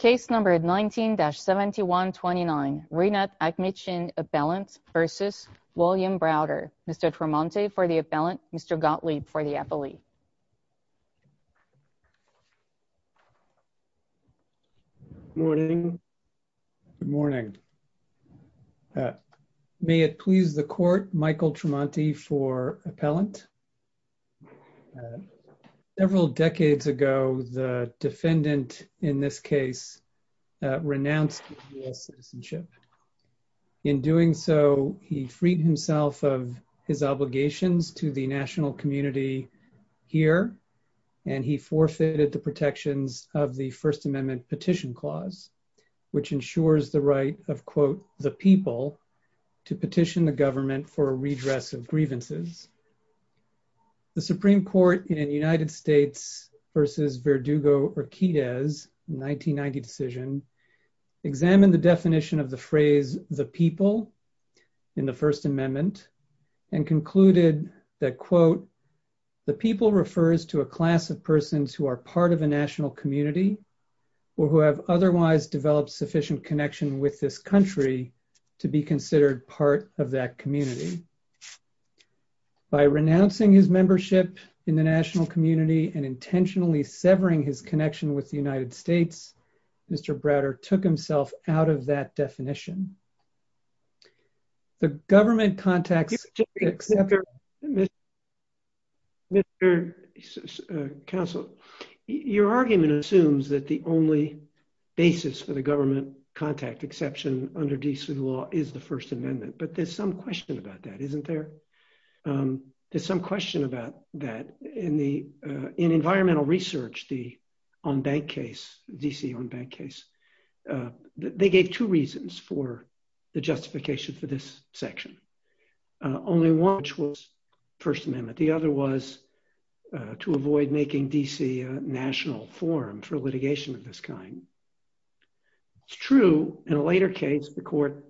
Mr. Tremonti for the appellant, Mr. Gottlieb for the appellee. Morning. Good morning. May it please the court, Michael Tremonti for appellant. Several decades ago, the defendant in this case renounced US citizenship. In doing so, he freed himself of his obligations to the national community here, and he forfeited the protections of the First Amendment Petition Clause, which ensures the right of, quote, the people to petition the government for a redress of grievances. The Supreme Court in the United States versus Verdugo-Urquidez 1990 decision examined the definition of the phrase the people in the First Amendment and concluded that, quote, the people refers to a class of persons who are part of a national community or who have otherwise developed sufficient connection with this country to be considered part of that community. By renouncing his membership in the national community and intentionally severing his connection with the United States, Mr. Browder took himself out of that definition. Mr. Counsel, your argument assumes that the only basis for the government contact exception under D.C. law is the First Amendment, but there's some question about that, isn't there? There's some question about that in environmental research, the on-bank case, D.C. on-bank case. They gave two reasons for the justification for this section, only one which was First Amendment. The other was to avoid making D.C. a national forum for litigation of this kind. It's true, in a later case, the court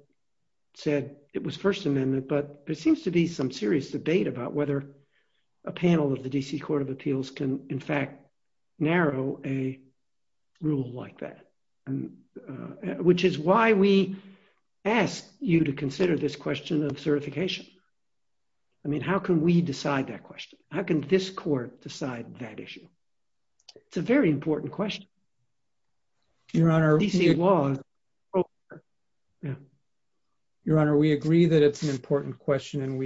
said it was First Amendment, but there seems to be some serious debate about whether a panel of the D.C. Court of Appeals can, in fact, narrow a rule like that. Which is why we ask you to consider this question of certification. I mean, how can we decide that question? How can this court decide that issue? It's a very important question. D.C. law. Your Honor, we agree that it's an important question, and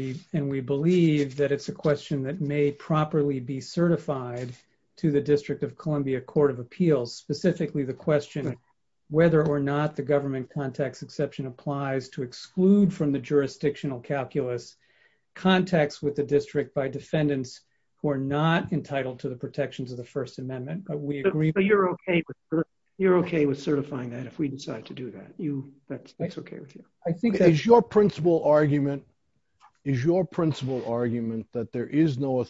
we believe that it's a question that may properly be certified to the District of Columbia Court of Appeals. Specifically, the question, whether or not the government context exception applies to exclude from the jurisdictional calculus contacts with the district by defendants who are not entitled to the protections of the First Amendment. But we agree- But you're okay with certifying that, if we decide to do that. That's okay with you. Is your principal argument that there is no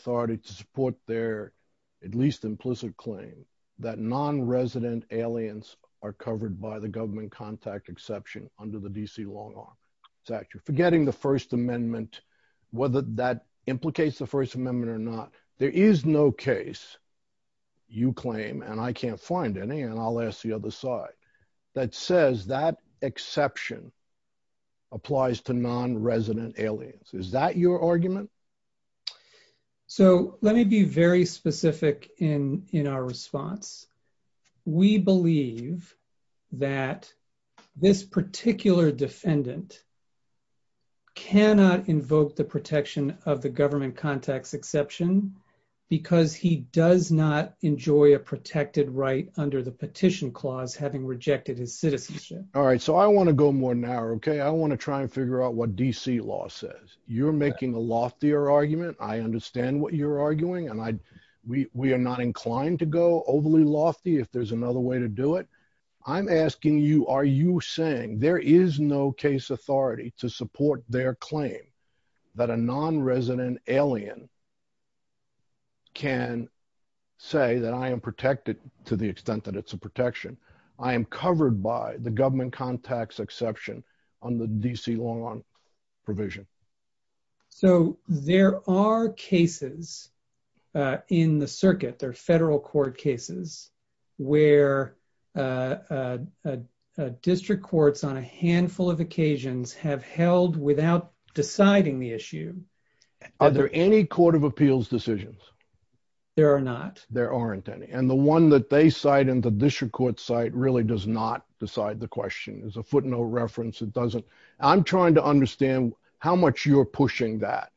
are covered by the government contact exception under the D.C. law? Forgetting the First Amendment, whether that implicates the First Amendment or not, there is no case, you claim, and I can't find any, and I'll ask the other side, that says that exception applies to non-resident aliens. Is that your argument? So, let me be very specific in our response. We believe that this particular defendant cannot invoke the protection of the government context exception, because he does not enjoy a protected right under the petition clause, having rejected his citizenship. All right. So, I want to go more narrow, okay? I want to try and figure out what D.C. law says. You're making a loftier argument. I understand what you're arguing, and we are not inclined to go overly lofty if there's another way to do it. I'm asking you, are you saying there is no case authority to support their claim that a non-resident alien can say that I am protected to the extent that it's a protection? I am covered by the government context exception on the D.C. law provision. So, there are cases in the circuit, there are federal court cases, where district courts on a handful of occasions have held without deciding the issue. Are there any court of appeals decisions? There are not. There aren't any. And the one that they cite in the district court site really does not decide the question. There's a footnote reference that doesn't. I'm trying to understand how much you're pushing that,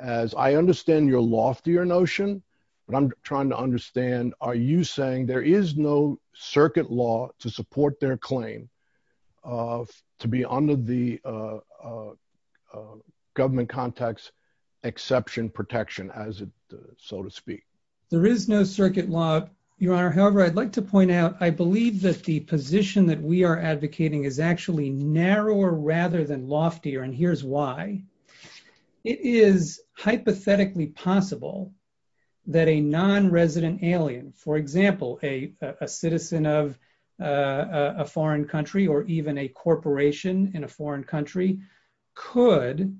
as I understand your loftier notion, but I'm trying to understand, are you saying there is no circuit law to support their claim to be under the government context exception protection, so to speak? There is no circuit law, Your Honor. However, I'd like to point out, I believe that the position that we are advocating is actually narrower rather than loftier, and here's why. It is hypothetically possible that a non-resident alien, for example, a citizen of a foreign country or even a corporation in a foreign country, could,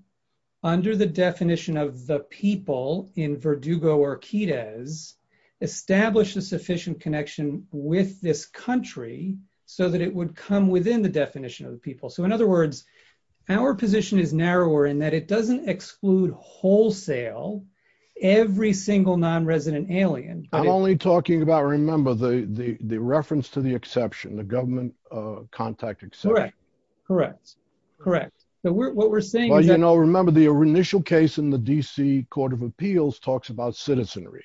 under the definition of the people in Verdugo or it would come within the definition of the people. In other words, our position is narrower in that it doesn't exclude wholesale every single non-resident alien. I'm only talking about, remember, the reference to the exception, the government contact exception. Correct. Correct. Correct. What we're saying is that... Well, you know, remember the initial case in the D.C. Court of Appeals talks about citizenry.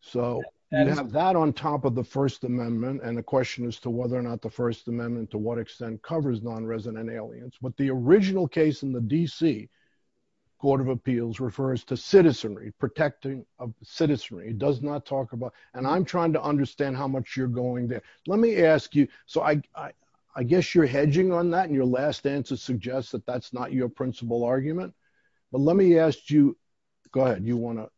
So you have that on top of the First Amendment, and the question is to whether or not the First Amendment to what extent covers non-resident aliens. But the original case in the D.C. Court of Appeals refers to citizenry, protecting of citizenry. It does not talk about... And I'm trying to understand how much you're going there. Let me ask you... So I guess you're hedging on that, and your last answer suggests that that's not your principal argument. But let me ask you... Go ahead. You want to...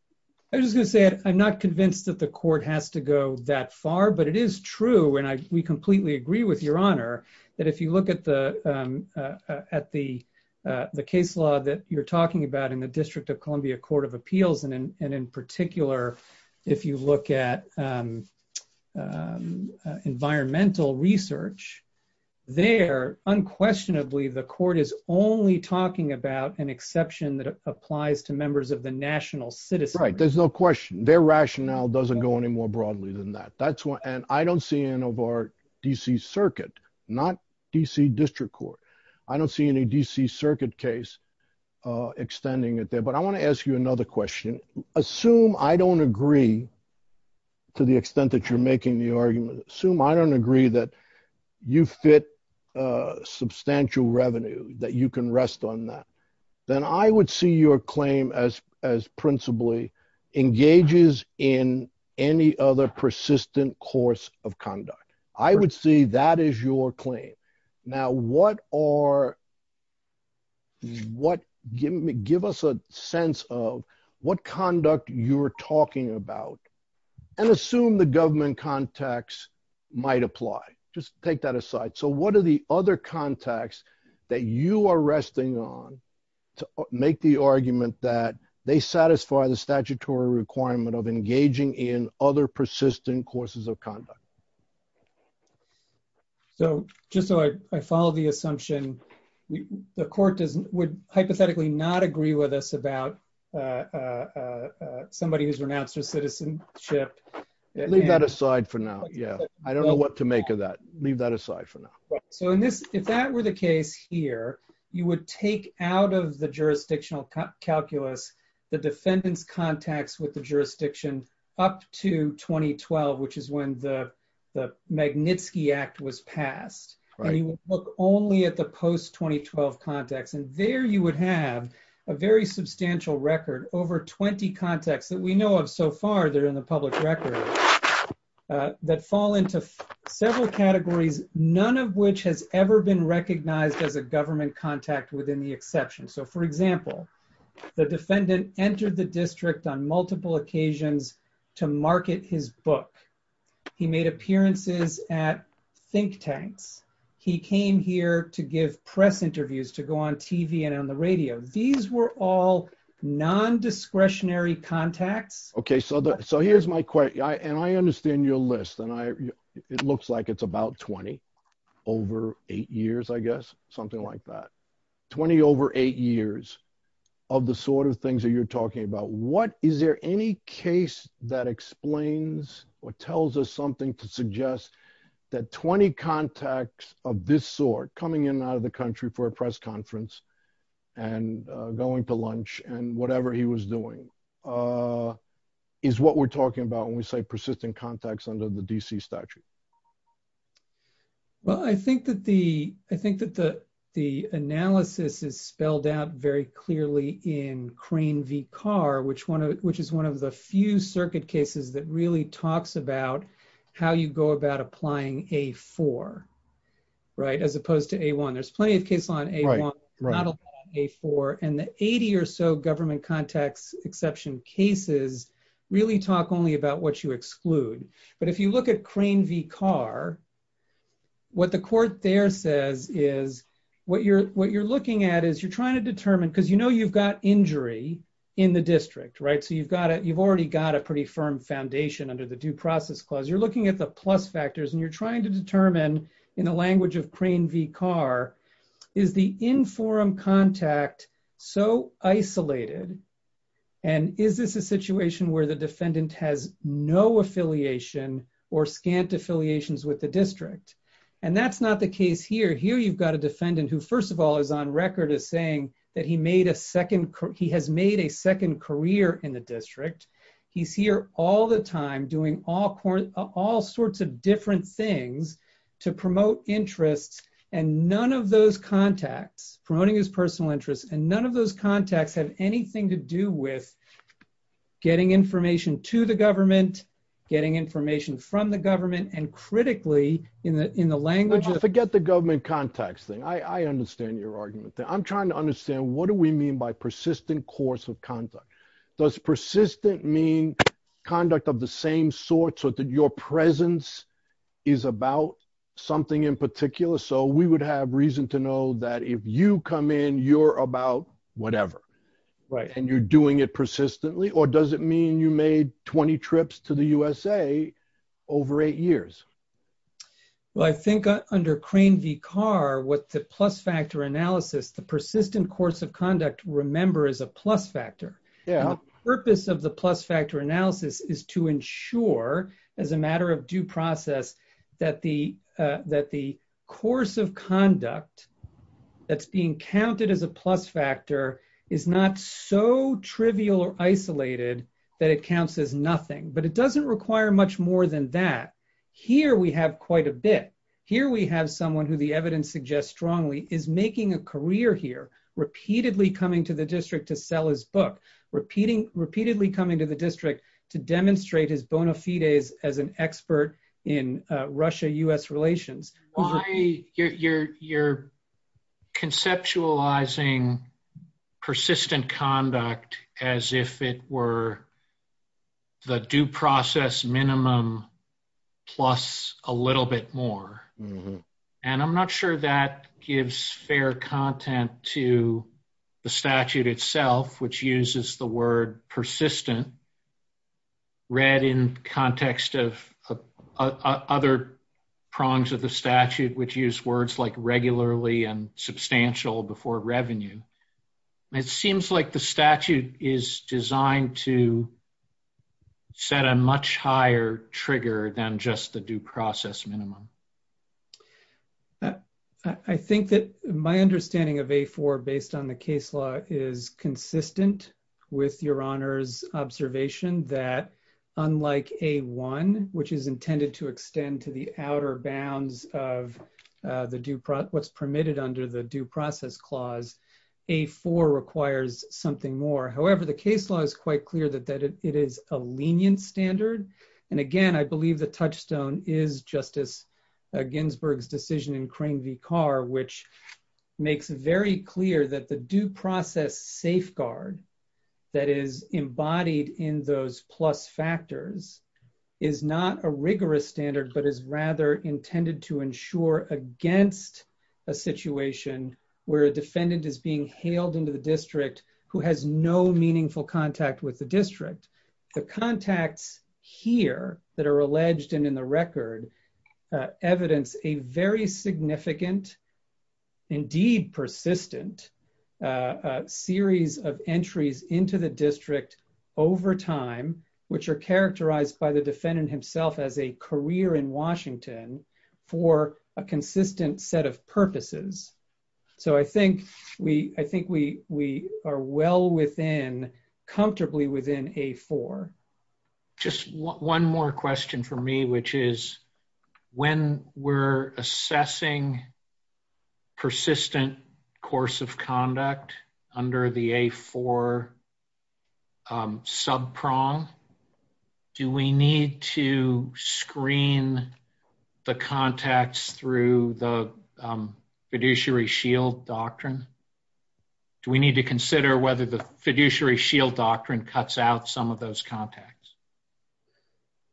I was going to say, I'm not convinced that the court has to go that far, but it is true, and we completely agree with your honor, that if you look at the case law that you're talking about in the District of Columbia Court of Appeals, and in particular, if you look at environmental research, there, unquestionably, the court is only talking about an exception that applies to members of the national citizenry. There's no question. Their rationale doesn't go any more broadly than that. And I don't see any of our D.C. Circuit, not D.C. District Court. I don't see any D.C. Circuit case extending it there. But I want to ask you another question. Assume I don't agree to the extent that you're making the argument. Assume I don't agree that you fit substantial revenue, that you can rest on that. Then I would see your claim as principally engages in any other persistent course of conduct. I would see that as your claim. Now, what are... Give us a sense of what conduct you're talking about, and assume the government context might apply. Just take that aside. So what are the other contexts that you are resting on to make the argument that they satisfy the statutory requirement of engaging in other persistent courses of conduct? So just so I follow the assumption, the court would hypothetically not agree with us about somebody who's renounced their citizenship. Leave that aside for now. Yeah. I don't know what to make of that. Leave that aside for now. So if that were the case here, you would take out of the jurisdictional calculus, the defendant's contacts with the jurisdiction up to 2012, which is when the Magnitsky Act was passed. And you would look only at the post-2012 context. And there you would have a very substantial record, over 20 contexts that we know of so far that are in the public record, that fall into several categories, none of which has ever been recognized as a government contact within the exception. So for example, the defendant entered the district on multiple occasions to market his book. He made appearances at think tanks. He came here to give press interviews, to go on TV and on the radio. These were all non-discretionary contacts. Okay. So here's my question. And I understand your list and it looks like it's about 20 over eight years, I guess, something like that. 20 over eight years of the sort of things that you're talking about. Is there any case that explains or tells us something to suggest that 20 contacts of this sort coming in and out of the country for a press conference and going to lunch and whatever he was doing is what we're talking about when we say persistent contacts under the DC statute? Well, I think that the analysis is spelled out very clearly in Crane v. Carr, which is one of the few circuit cases that really talks about how you go about applying A4, right? As opposed to A1. There's plenty of case law on A1, not a lot on A4. And the 80 or so government contacts exception cases really talk only about what you exclude. But if you look at Crane v. Carr, what the court there says is what you're looking at is you're trying to determine, because you know, you've got injury in the district, right? So you've already got a pretty firm foundation under the due process clause. You're looking at the plus factors and you're is the in forum contact so isolated? And is this a situation where the defendant has no affiliation or scant affiliations with the district? And that's not the case here. Here, you've got a defendant who first of all, is on record as saying that he made a second, he has made a second career in the district. He's here all the time doing all sorts of different things to promote interests. And none of those contacts, promoting his personal interests, and none of those contacts have anything to do with getting information to the government, getting information from the government and critically in the language of- Forget the government contacts thing. I understand your argument. I'm trying to understand what do we mean by persistent course of conduct? Does persistent mean conduct of the same sorts or that your presence is about something in particular? So we would have reason to know that if you come in, you're about whatever, right? And you're doing it persistently? Or does it mean you made 20 trips to the USA over eight years? Well, I think under Crane v. Carr, what the plus factor analysis, the persistent course of conduct remember is a plus factor. The purpose of the plus factor analysis is to ensure, as a matter of due process, that the course of conduct that's being counted as a plus factor is not so trivial or isolated that it counts as nothing. But it doesn't require much more than that. Here, we have quite a bit. Here, we have someone who the evidence suggests strongly is making a career here, repeatedly coming to the district to sell his book, repeatedly coming to the district to demonstrate his bona fides as an expert in Russia-U.S. relations. Why you're conceptualizing persistent conduct as if it were the due process minimum plus a little bit more. And I'm not sure that gives fair content to the statute itself, which uses the word persistent read in context of other prongs of the statute, which use words like regularly and substantial before revenue. It seems like the statute is designed to set a much higher trigger than just the due process minimum. I think that my understanding of A4 based on the case law is consistent with your honor's observation that unlike A1, which is intended to extend to the outer bounds of what's permitted under the due process clause, A4 requires something more. However, the case law is quite clear that it is a lenient standard. And again, I believe the touchstone is Justice Ginsburg's decision in Crane v. Carr, which makes it very clear that the due process safeguard that is embodied in those plus factors is not a rigorous standard, but is rather intended to ensure against a situation where a defendant is being hailed into the district who has no meaningful contact with the district. The contacts here that are alleged and in the record evidence a very significant, indeed persistent, series of entries into the district over time, which are characterized by the defendant himself as a career in Washington for a consistent set of purposes. So I think we are well within, comfortably within A4. Just one more question for me, which is when we're assessing persistent course of conduct under the A4 subprong, do we need to screen the contacts through the fiduciary shield doctrine? Do we need to consider whether the fiduciary shield doctrine cuts out some of those contacts?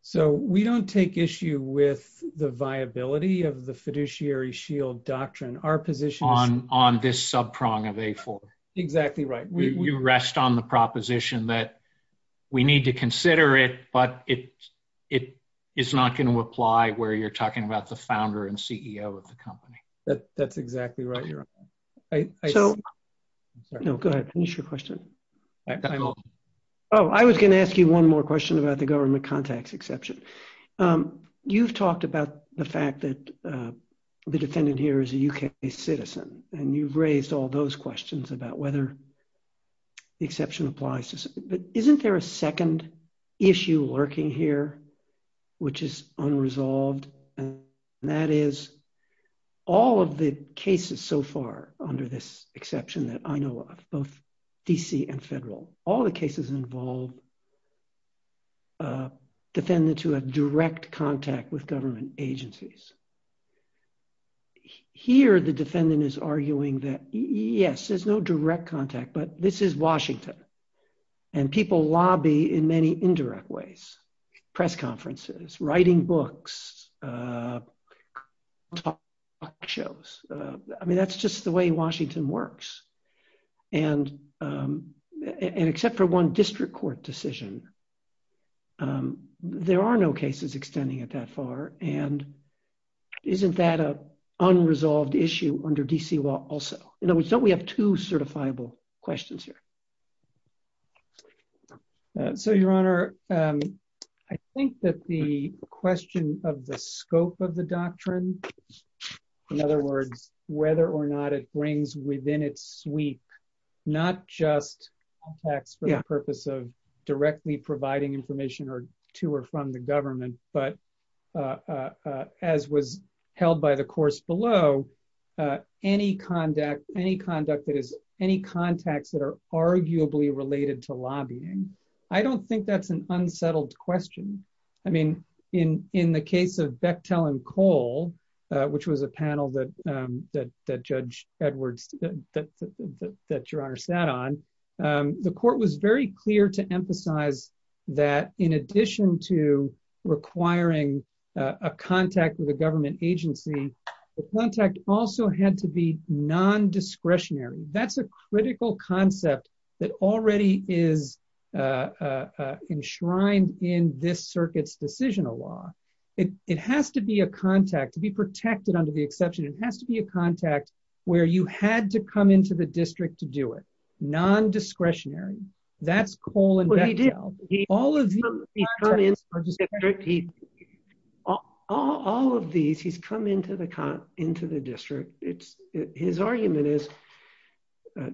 So we don't take issue with the viability of the fiduciary shield doctrine. Our position on this subprong of A4. Exactly right. You rest on the proposition that we need to consider it, but it is not going to apply where you're talking about the founder and CEO of the company. That's exactly right. No, go ahead. Finish your question. Oh, I was going to ask you one more question about the government contacts exception. Um, you've talked about the fact that, uh, the defendant here is a UK citizen and you've raised all those questions about whether the exception applies to, but isn't there a second issue lurking here, which is unresolved and that is all of the cases so far under this exception that I direct contact with government agencies. Here, the defendant is arguing that yes, there's no direct contact, but this is Washington and people lobby in many indirect ways, press conferences, writing books, uh, shows. Uh, I mean, that's just the way Washington works. And, um, and except for one district court decision, um, there are no cases extending it that far. And isn't that a unresolved issue under DC law also? In other words, don't we have two certifiable questions here? So your honor, um, I think that the question of the scope of the doctrine, in other words, whether or not it brings within its sweep, not just tax for the purpose of directly providing information or to or from the government, but, uh, uh, uh, as was held by the course below, uh, any conduct, any conduct that is any contacts that are arguably related to lobbying. I don't think that's an unsettled question. I mean, in, in the case of Bechtel and Cole, uh, which was a panel that, um, that, that judge Edwards, that your honor sat on, um, the court was very clear to emphasize that in addition to requiring, uh, a contact with a government agency, the contact also had to be non-discretionary. That's a critical concept that already is, uh, uh, uh, enshrined in this circuit's decisional law. It, it has to be a contact to be protected under the exception. It has to be a contact where you had to come into the district to do it. Non-discretionary. That's Cole and Bechtel. All of these, he's come into the, into the district. It's his argument is,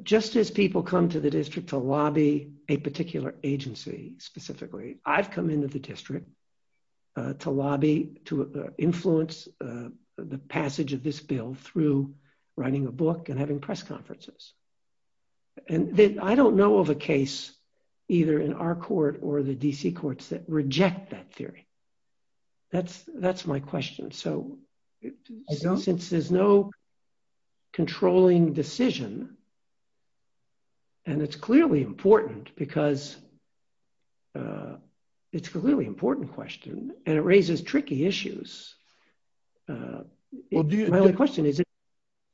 just as people come to the district to lobby a particular agency specifically, I've come into the district, uh, to lobby, to influence, uh, the passage of this bill through writing a book and or the DC courts that reject that theory. That's, that's my question. So since there's no controlling decision and it's clearly important because, uh, it's clearly important question and it raises tricky issues. Uh, my only question is,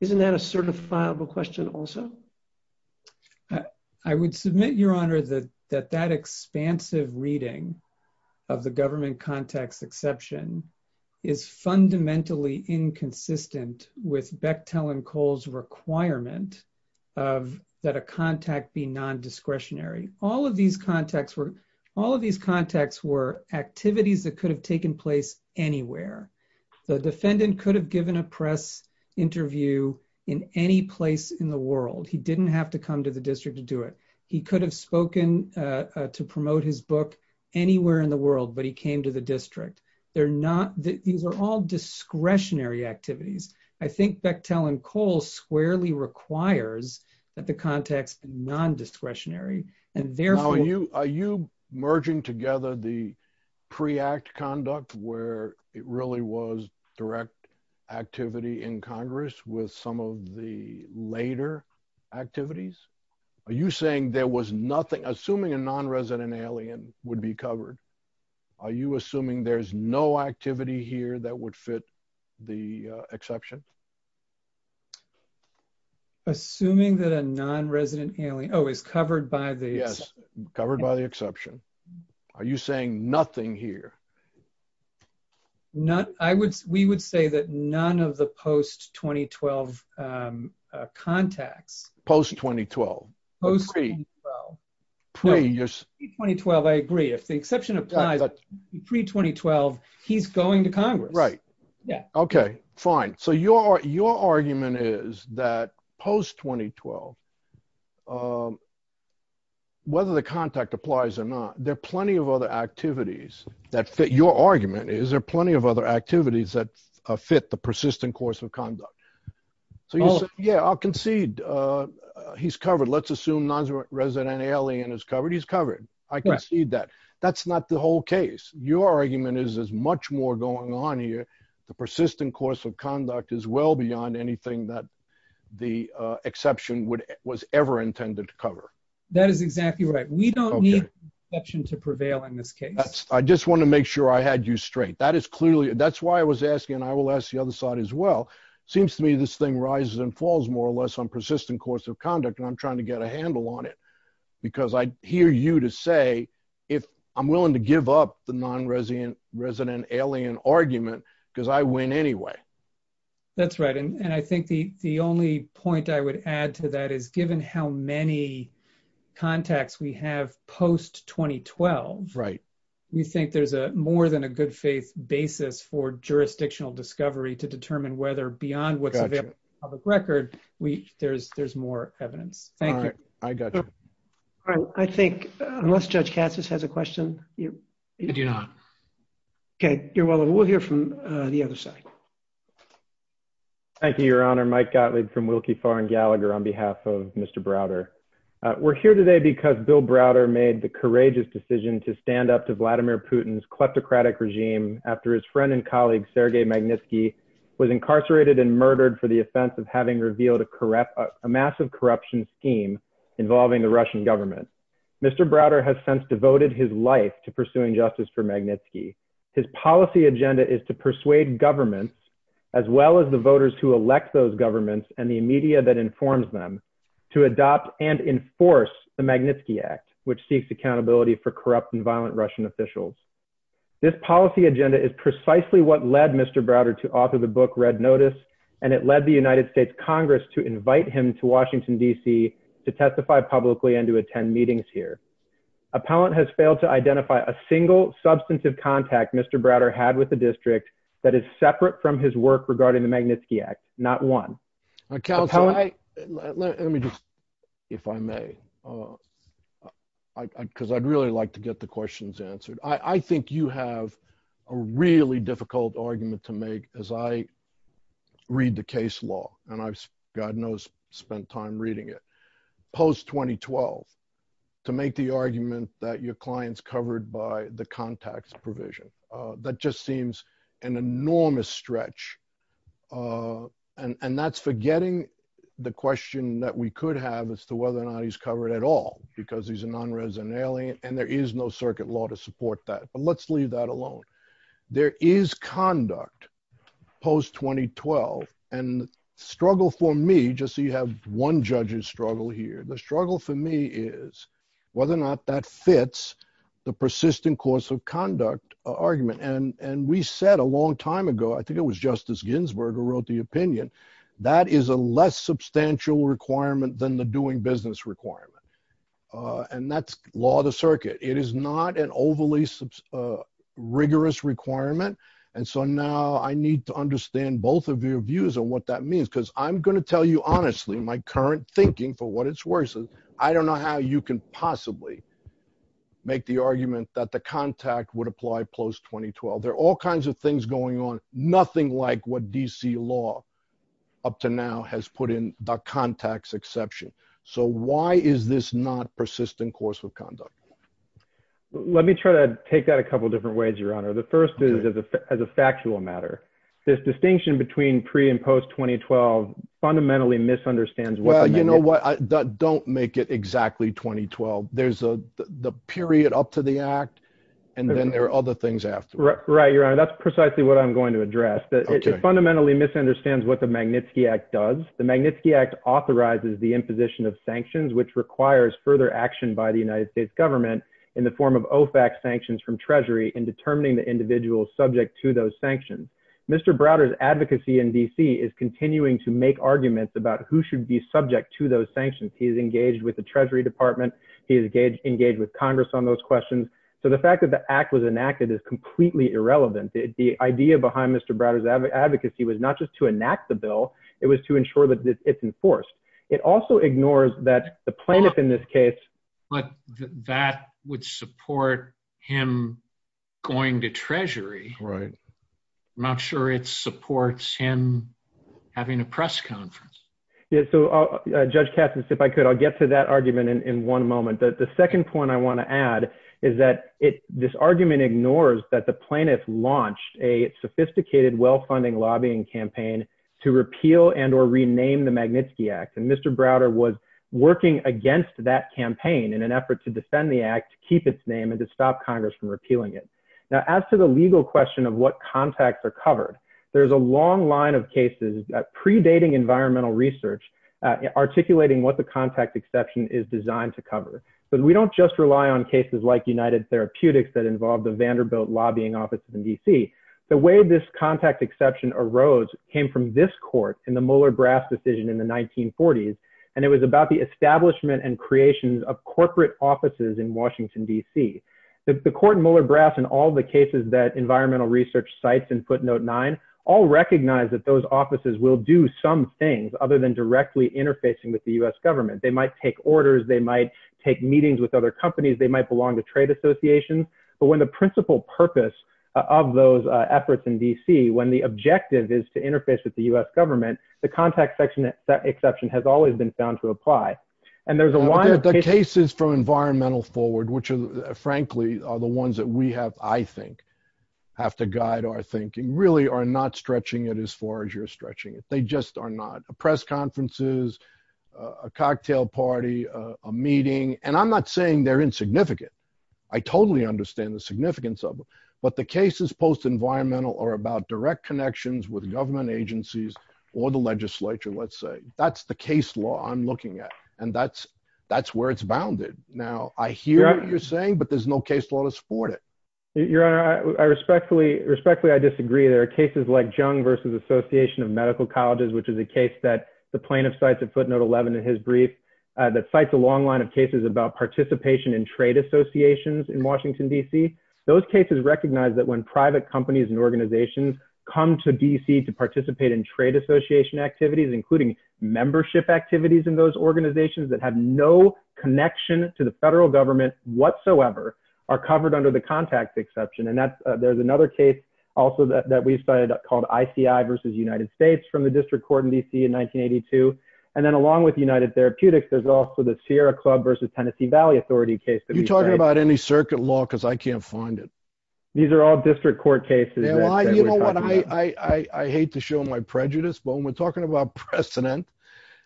isn't that a certifiable question also? Uh, I would submit your honor that, that, that expansive reading of the government contacts exception is fundamentally inconsistent with Bechtel and Cole's requirement of that a contact be non-discretionary. All of these contacts were, all of these contacts were activities that could have taken place anywhere. The defendant could have given a press interview in any place in the world. He didn't have to come to the district to do it. He could have spoken, uh, uh, to promote his book anywhere in the world, but he came to the district. They're not, these are all discretionary activities. I think Bechtel and Cole squarely requires that the context non-discretionary and therefore- Now are you, are you merging together the pre-act conduct where it really was direct activity in Congress with some of the later activities? Are you saying there was nothing, assuming a non-resident alien would be covered? Are you assuming there's no activity here that would fit the exception? Assuming that a non-resident alien, oh, is covered by the- Yes, covered by the exception. Are you saying nothing here? Not, I would, we would say that none of the post-2012, um, uh, contacts- Post-2012. Post-2012. Pre-2012, I agree. If the exception applies, pre-2012, he's going to Congress. Right. Okay, fine. So your, your argument is that post-2012, um, the contact applies or not, there are plenty of other activities that fit your argument is, there are plenty of other activities that fit the persistent course of conduct. So you said, yeah, I'll concede, uh, he's covered. Let's assume non-resident alien is covered. He's covered. I concede that. That's not the whole case. Your argument is, there's much more going on here. The persistent course of conduct is well beyond anything that the, uh, exception would, was ever intended to cover. That is exactly right. We don't need the exception to prevail in this case. I just want to make sure I had you straight. That is clearly, that's why I was asking, and I will ask the other side as well. It seems to me this thing rises and falls more or less on persistent course of conduct. And I'm trying to get a handle on it because I hear you to say, if I'm willing to give up the non-resident, resident alien argument, because I win anyway. That's right. And I think the, the only point I would add to that is given how many contacts we have post-2012, we think there's a more than a good faith basis for jurisdictional discovery to determine whether beyond what's available in the public record, we, there's, there's more evidence. Thank you. All right. I got you. All right. I think unless Judge Cassis has a question. I do not. Okay. You're welcome. We'll hear from the other side. Thank you, Your Honor. Mike Gottlieb from Wilkie, Farr, and Gallagher on behalf of Mr. Browder. We're here today because Bill Browder made the courageous decision to stand up to Vladimir Putin's kleptocratic regime after his friend and colleague Sergei Magnitsky was incarcerated and murdered for the offense of having revealed a massive corruption scheme involving the Russian government. Mr. Browder has since devoted his life to pursuing justice for Magnitsky. His policy agenda is to persuade governments, as well as the voters who elect those governments and the media that informs them, to adopt and enforce the Magnitsky Act, which seeks accountability for corrupt and violent Russian officials. This policy agenda is precisely what led Mr. Browder to author the book, Red Notice, and it led the United States Congress to invite him to Washington DC to testify publicly and to attend meetings here. Appellant has failed to identify a single substantive contact Mr. Browder had with the district that is separate from his regarding the Magnitsky Act, not one. Let me just, if I may, because I'd really like to get the questions answered. I think you have a really difficult argument to make as I read the case law, and I've, God knows, spent time reading it, post-2012, to make the argument that your client's covered by the contacts provision. That just seems an enormous stretch, and that's forgetting the question that we could have as to whether or not he's covered at all, because he's a non-resident alien, and there is no circuit law to support that. But let's leave that alone. There is conduct post-2012, and the struggle for me, just so you have one judge's struggle here, the struggle for me is whether or not that fits the a long time ago. I think it was Justice Ginsburg who wrote the opinion. That is a less substantial requirement than the doing business requirement, and that's law of the circuit. It is not an overly rigorous requirement, and so now I need to understand both of your views on what that means, because I'm going to tell you honestly, my current thinking for what it's worth is, I don't know how you can possibly make the argument that the contact would apply post-2012. There are all kinds of things going on, nothing like what D.C. law up to now has put in the contacts exception. So why is this not persistent course of conduct? Let me try to take that a couple different ways, your honor. The first is as a factual matter. This distinction between pre and post-2012 fundamentally misunderstands. Well, you know what, don't make it exactly 2012. There's the period up to the act, and then there are other things after. Right, your honor. That's precisely what I'm going to address. It fundamentally misunderstands what the Magnitsky Act does. The Magnitsky Act authorizes the imposition of sanctions, which requires further action by the United States government in the form of OFAC sanctions from Treasury in determining the individual subject to those sanctions. Mr. Browder's advocacy in D.C. is continuing to make arguments about who should be subject to those sanctions. He's engaged with the Treasury Department, engaged with Congress on those questions. So the fact that the act was enacted is completely irrelevant. The idea behind Mr. Browder's advocacy was not just to enact the bill, it was to ensure that it's enforced. It also ignores that the plaintiff in this case. But that would support him going to Treasury. I'm not sure it supports him having a press conference. Yeah, so Judge Katzen, if I could, I'll get to that argument in one moment. The second point I want to add is that this argument ignores that the plaintiff launched a sophisticated, well-funding lobbying campaign to repeal and or rename the Magnitsky Act. And Mr. Browder was working against that campaign in an effort to defend the act, to keep its name, and to stop Congress from repealing it. Now, as to the legal question of what contacts are covered, there's a research articulating what the contact exception is designed to cover. But we don't just rely on cases like United Therapeutics that involved the Vanderbilt lobbying offices in D.C. The way this contact exception arose came from this court in the Mueller-Brass decision in the 1940s, and it was about the establishment and creation of corporate offices in Washington, D.C. The court in Mueller-Brass and all the cases that environmental research cites in footnote 9 all recognize that those offices will do some things other than directly interfacing with the U.S. government. They might take orders, they might take meetings with other companies, they might belong to trade associations. But when the principal purpose of those efforts in D.C., when the objective is to interface with the U.S. government, the contact section exception has always been found to apply. And there's a lot of cases from environmental forward, frankly, are the ones that we have, I think, have to guide our thinking, really are not stretching it as far as you're stretching it. They just are not. Press conferences, a cocktail party, a meeting, and I'm not saying they're insignificant. I totally understand the significance of them. But the cases post-environmental are about direct connections with government agencies or the legislature, let's say. That's the case law I'm looking at. And that's where it's bounded. Now, I hear what you're saying, but there's no case law to support it. Your Honor, respectfully, I disagree. There are cases like Jung versus Association of Medical Colleges, which is a case that the plaintiff cites at footnote 11 in his brief that cites a long line of cases about participation in trade associations in Washington, D.C. Those cases recognize that when private companies and organizations come to D.C. to participate in trade association activities, including membership activities in those organizations that have no connection to the federal government whatsoever, are covered under the contact exception. And there's another case also that we cited called ICI versus United States from the district court in D.C. in 1982. And then along with United Therapeutics, there's also the Sierra Club versus Tennessee Valley Authority case. You're talking about any circuit law because I can't find it. These are all district court cases. You know what? I hate to show my prejudice, but when we're talking about precedent,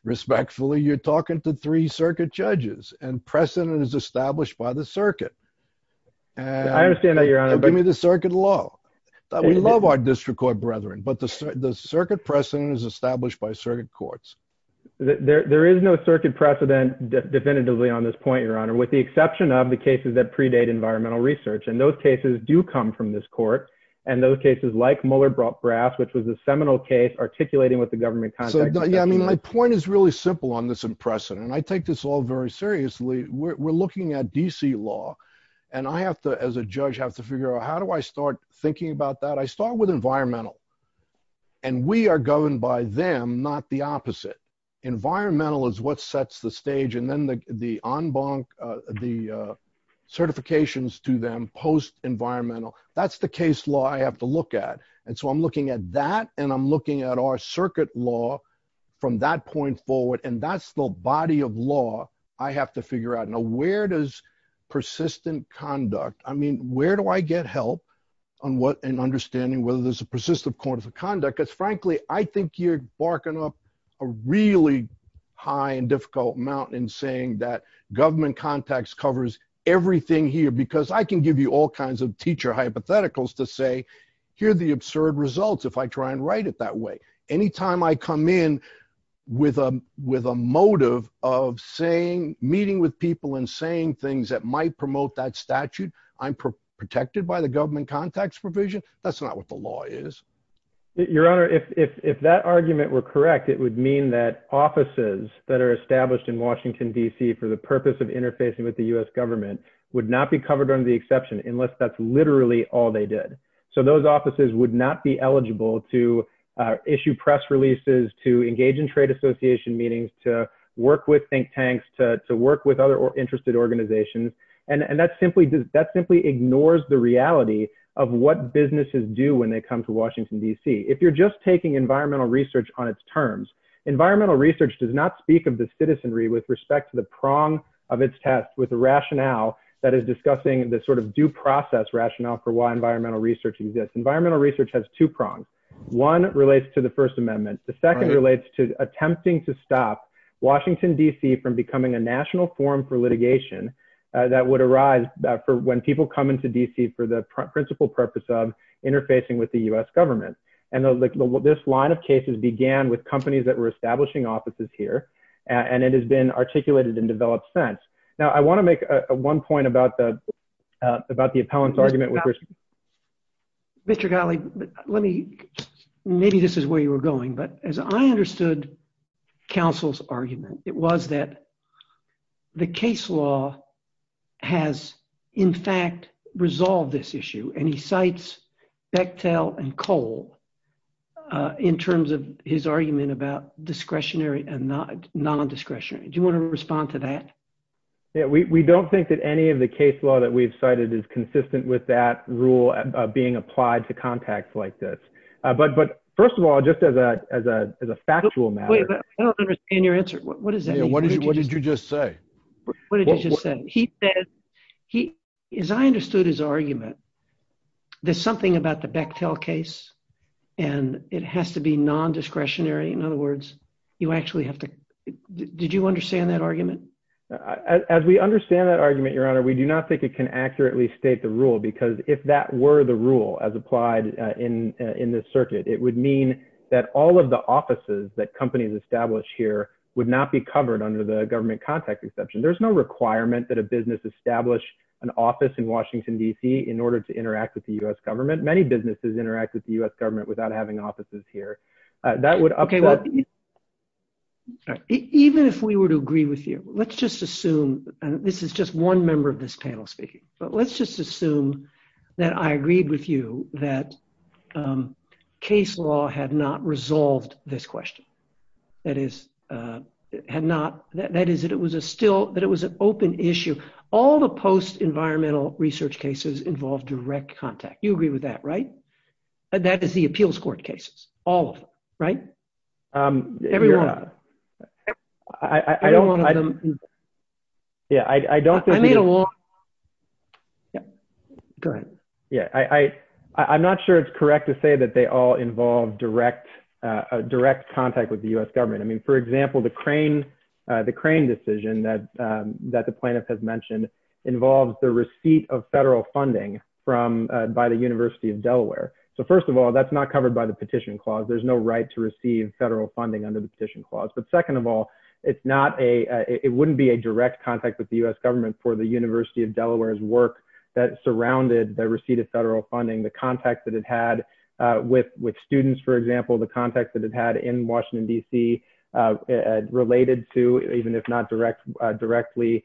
respectfully, you're talking to three circuit judges and precedent is established by the circuit. I understand that, Your Honor. Give me the circuit law. We love our district court brethren, but the circuit precedent is established by circuit courts. There is no circuit precedent definitively on this point, Your Honor, with the exception of the cases that predate environmental research. And those cases do come from this court. And those cases like Mueller-Brass, which was a seminal case articulating with the government context. I mean, my point is really simple on this in precedent. And I take this all very seriously. We're looking at D.C. law. And I have to, as a judge, have to figure out how do I start thinking about that? I start with environmental. And we are governed by them, not the opposite. Environmental is what sets the stage. And then the certifications to them, post-environmental, that's the case law I have to look at. And so I'm looking at that, and I'm looking at our circuit law from that point forward. And that's the body of law I have to figure out. Now, where does persistent conduct, I mean, where do I get help on what, in understanding whether there's a persistent point of conduct? Because frankly, I think you're barking up a really high and difficult mountain in saying that government context covers everything here, because I can give you all kinds of teacher hypotheticals to say, here are the absurd results if I try and write it that way. Anytime I come in with a motive of saying, meeting with people and saying things that might promote that statute, I'm protected by the government context provision. That's not what the law is. Your Honor, if that argument were correct, it would mean that offices that are established in Washington, D.C. for the purpose of interfacing with the U.S. government would not be covered under the exception unless that's literally all they did. So those offices would not be eligible to issue press releases, to engage in trade association meetings, to work with think tanks, to work with other interested organizations. And that simply ignores the reality of what businesses do when they come to Washington, D.C. If you're just taking environmental research on its terms, environmental research does not speak of the citizenry with respect to the prong of its test with the rationale that is discussing the sort of due process rationale for why environmental research exists. Environmental research has two prongs. One relates to the First Amendment. The second relates to attempting to stop Washington, D.C. from becoming a national forum for litigation that would arise for when people come into D.C. for the principal purpose of interfacing with the U.S. government. And this line of cases began with companies that were establishing offices here, and it has been articulated and developed since. Now, I want to make one point about the appellant's argument. Mr. Galli, maybe this is where you were going, but as I understood counsel's argument, it was that the case law has, in fact, resolved this issue. And he cites Bechtel and Cole in terms of his argument about discretionary and non-discretionary. Do you want to respond to that? Yeah, we don't think that any of the case law that we've cited is consistent with that rule being applied to contacts like this. But first of all, just as a factual matter. I don't understand your answer. What does that mean? What did you just say? What did you just say? He says, as I understood his argument, there's something about the Bechtel case, and it has to be non-discretionary. In other words, you actually have to, did you understand that argument? As we understand that argument, Your Honor, we do not think it can accurately state the rule, because if that were the rule as applied in this circuit, it would mean that all of the offices that companies established here would not be covered under the government contact exception. There's no requirement that a business establish an office in Washington, D.C., in order to interact with the U.S. government. Many businesses interact with the U.S. government without having offices here. That would upset- Okay, well, even if we were to agree with you, let's just assume, and this is just one member of this panel speaking, but let's just assume that I agreed with you that case law had not resolved this question. That is, that it was an open issue. All the post-environmental research cases involved direct contact. You agree with that, right? That is the appeals court cases, all of them, right? Every one of them. Every one of them. Yeah, I don't think- I made a long- Go ahead. Yeah, I'm not sure it's correct to say that they all involve direct contact with the U.S. government. I mean, for example, the Crane decision that the plaintiff has mentioned involves the receipt of federal funding by the University of Delaware. So, first of all, that's not covered by the petition clause. There's no right to receive federal funding under the petition clause. But second of all, it wouldn't be a direct contact with the U.S. government for the University of Delaware's work that surrounded the receipt of federal funding, the contacts that it had with students, for example, the contacts that it had in Washington, D.C. related to, even if not directly,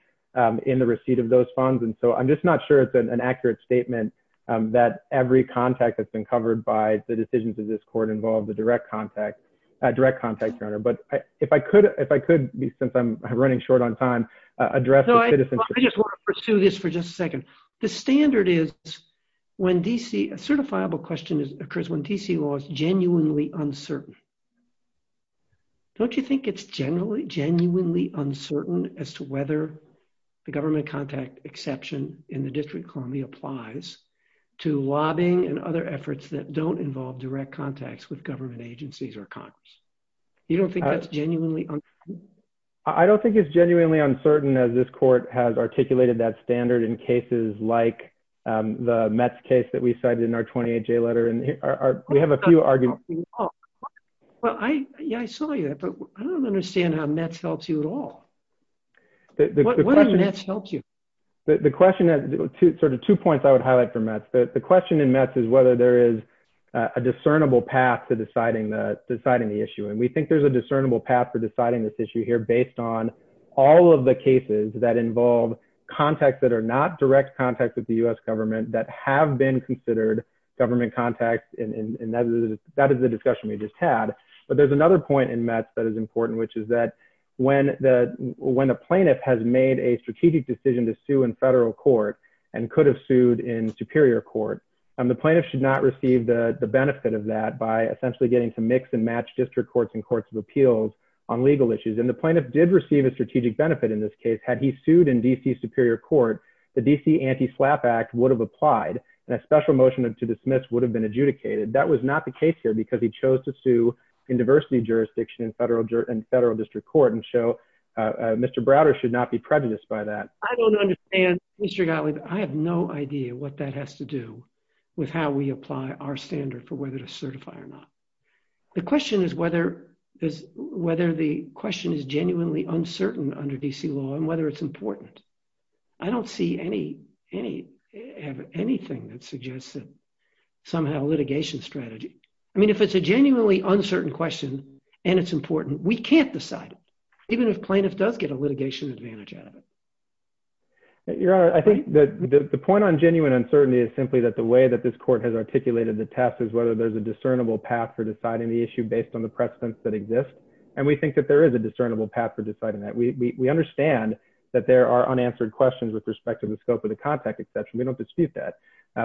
in the receipt of those funds. And so, I'm just not sure it's an accurate statement that every contact that's been covered by the decisions of this court involves a direct contact, direct contact, Your Honor. But if I could, since I'm running short on time, address the citizenship- I just want to pursue this for just a second. The standard is when D.C., a certifiable question occurs when D.C. law is genuinely uncertain. Don't you think it's genuinely uncertain as to whether the government contact exception in the district colony applies to lobbying and other efforts that don't involve direct contacts with government agencies or Congress? You don't think that's genuinely uncertain? I don't think it's genuinely uncertain as this court has articulated that standard in cases like the Metz case that we cited in our 28-J letter. And we have a few arguments- Well, yeah, I saw you, but I don't understand how Metz helps you at all. What does Metz help you? The question- Two points I would highlight for Metz. The question in Metz is whether there is a discernible path to deciding the issue. And we think there's a discernible path for deciding this issue here based on all of the cases that involve contacts that are not direct contacts with the U.S. government that have been considered government contacts. And that is the discussion we just had. But there's another point in Metz that is important, which is that when a plaintiff has made a strategic decision to sue in federal court and could have sued in superior court, the plaintiff should not receive the benefit of that by essentially getting to mix and match district courts and courts of appeals on legal issues. And the plaintiff did receive a strategic benefit in this case. Had he sued in D.C. superior court, the D.C. Anti-SLAPP Act would have applied and a special motion to dismiss would have been adjudicated. That was not the case here because he chose to sue in diversity jurisdiction in federal district court and show Mr. Browder should not be prejudiced by that. I don't understand, Mr. Gottlieb. I have no idea what that has to do with how we apply our standard for whether to certify or not. The question is whether the question is genuinely uncertain under D.C. law and whether it's important. I don't see anything that suggests that somehow litigation strategy. I mean, if it's a genuinely uncertain question and it's important, we can't decide it even if plaintiff does get a litigation advantage out of it. Your Honor, I think that the point on genuine uncertainty is simply that the way that this court has articulated the test is whether there's a discernible path for deciding the issue based on the precedents that exist. And we think that there is a discernible path for deciding that. We understand that there are unanswered questions with respect to the scope of the contact exception. We don't dispute that.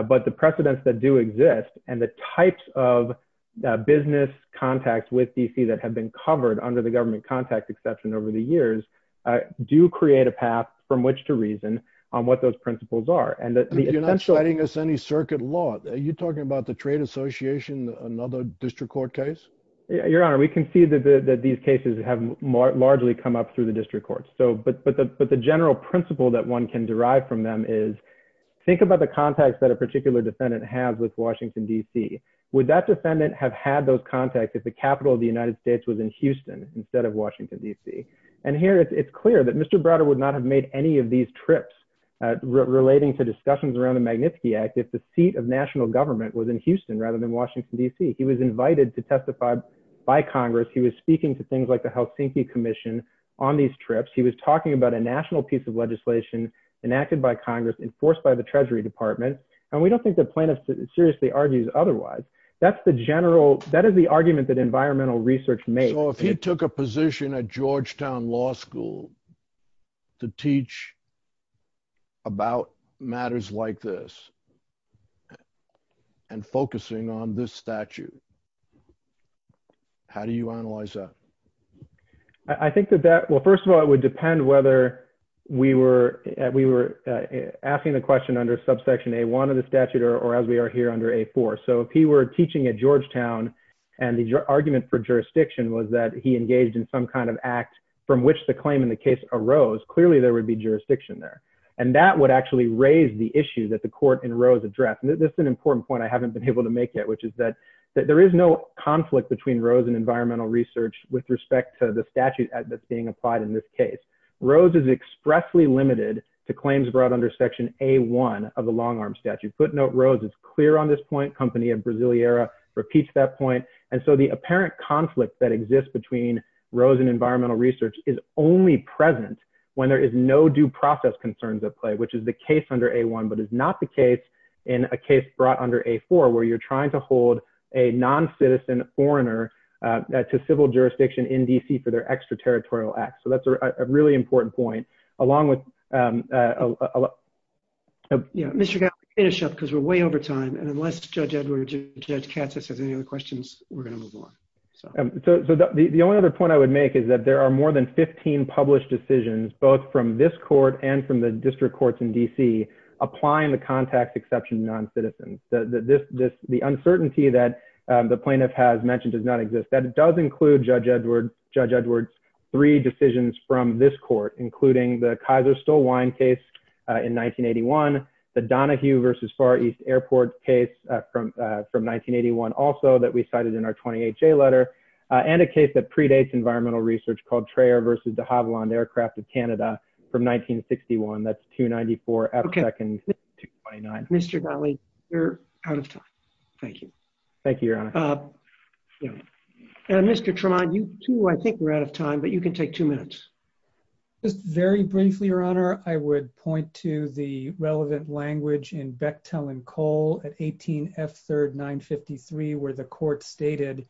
But the precedents that do exist and the types of business contacts with D.C. that have been covered under the government contact exception over the years do create a path from which to reason on what those principles are. You're not citing us any circuit law. Are you talking about the trade association, another district court case? Your Honor, we can see that these cases have largely come up through the district courts. But the general principle that one can derive from them is think about the context that a particular defendant has with Washington, D.C. Would that defendant have had those contacts if the capital of the United States was in Houston instead of Washington, D.C.? And here it's clear that Mr. Browder would not have made any of these trips relating to discussions around the Magnitsky Act if the seat of national government was in Houston rather than Washington, D.C. He was invited to by Congress. He was speaking to things like the Helsinki Commission on these trips. He was talking about a national piece of legislation enacted by Congress enforced by the Treasury Department. And we don't think the plaintiff seriously argues otherwise. That's the general that is the argument that environmental research made. So if he took a position at Georgetown Law School to teach about matters like this and focusing on this statute, how do you analyze that? I think that that, well, first of all, it would depend whether we were asking the question under subsection A-1 of the statute or as we are here under A-4. So if he were teaching at Georgetown and the argument for jurisdiction was that he engaged in some kind of act from which the claim in the case arose, clearly there would be jurisdiction there. And that would actually raise the issue that the court in Rose addressed. And this is an important point I haven't been able to make yet, which is that there is no conflict between Rose and environmental research with respect to the statute that's being applied in this case. Rose is expressly limited to claims brought under section A-1 of the long-arm statute. Footnote, it's clear on this point. Company of Brasileira repeats that point. And so the apparent conflict that exists between Rose and environmental research is only present when there is no due process concerns at play, which is the case under A-1, but is not the case in a case brought under A-4 where you're trying to hold a non-citizen foreigner to civil jurisdiction in DC for their extraterritorial acts. So that's a really important point along with... Mr. Gallagher, finish up because we're way over time. And unless Judge Edward or Judge Katsas has any other questions, we're going to move on. So the only other point I would make is that there are more than 15 published decisions, both from this court and from the district courts in DC, applying the contact exception to non-citizens. The uncertainty that the plaintiff has mentioned does not exist. That does include Judge Edward's three decisions from this court, including the Kaiser stole wine case in 1981, the Donoghue versus Far East Airport case from 1981 also that we cited in our 28-J letter, and a case that predates environmental research called Trayer versus de Havilland Aircraft of Canada from 1961. That's 294 F-Second 229. Mr. Gallagher, you're out of time. Thank you. Thank you, Your Honor. And Mr. Tremont, you too, I think we're out of time, but you can take two minutes. Just very briefly, Your Honor, I would point to the relevant language in Bechtel and Cole at 18 F-Third 953, where the court stated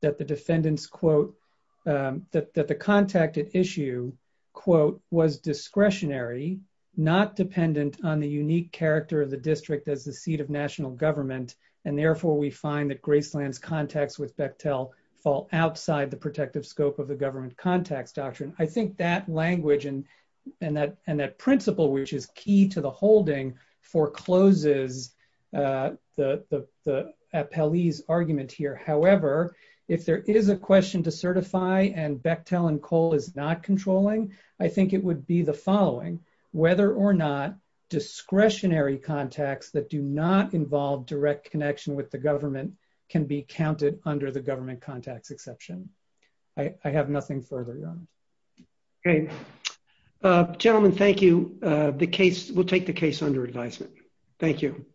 that the defendant's, quote, that the contact at issue, quote, was discretionary, not dependent on the unique character of the district as the seat of national government. And therefore we find that Graceland's contacts with Bechtel fall outside the protective scope of the government contacts doctrine. I think that language and that principle, which is key to the holding, forecloses the appellee's argument here. However, if there is a question to certify and Bechtel and Cole is not controlling, I think it would be the following, whether or not discretionary contacts that do not involve direct connection with the government can be counted under the government contacts exception. I have nothing further, Your Honor. Okay. Gentlemen, thank you. We'll take the case under advisement. Thank you.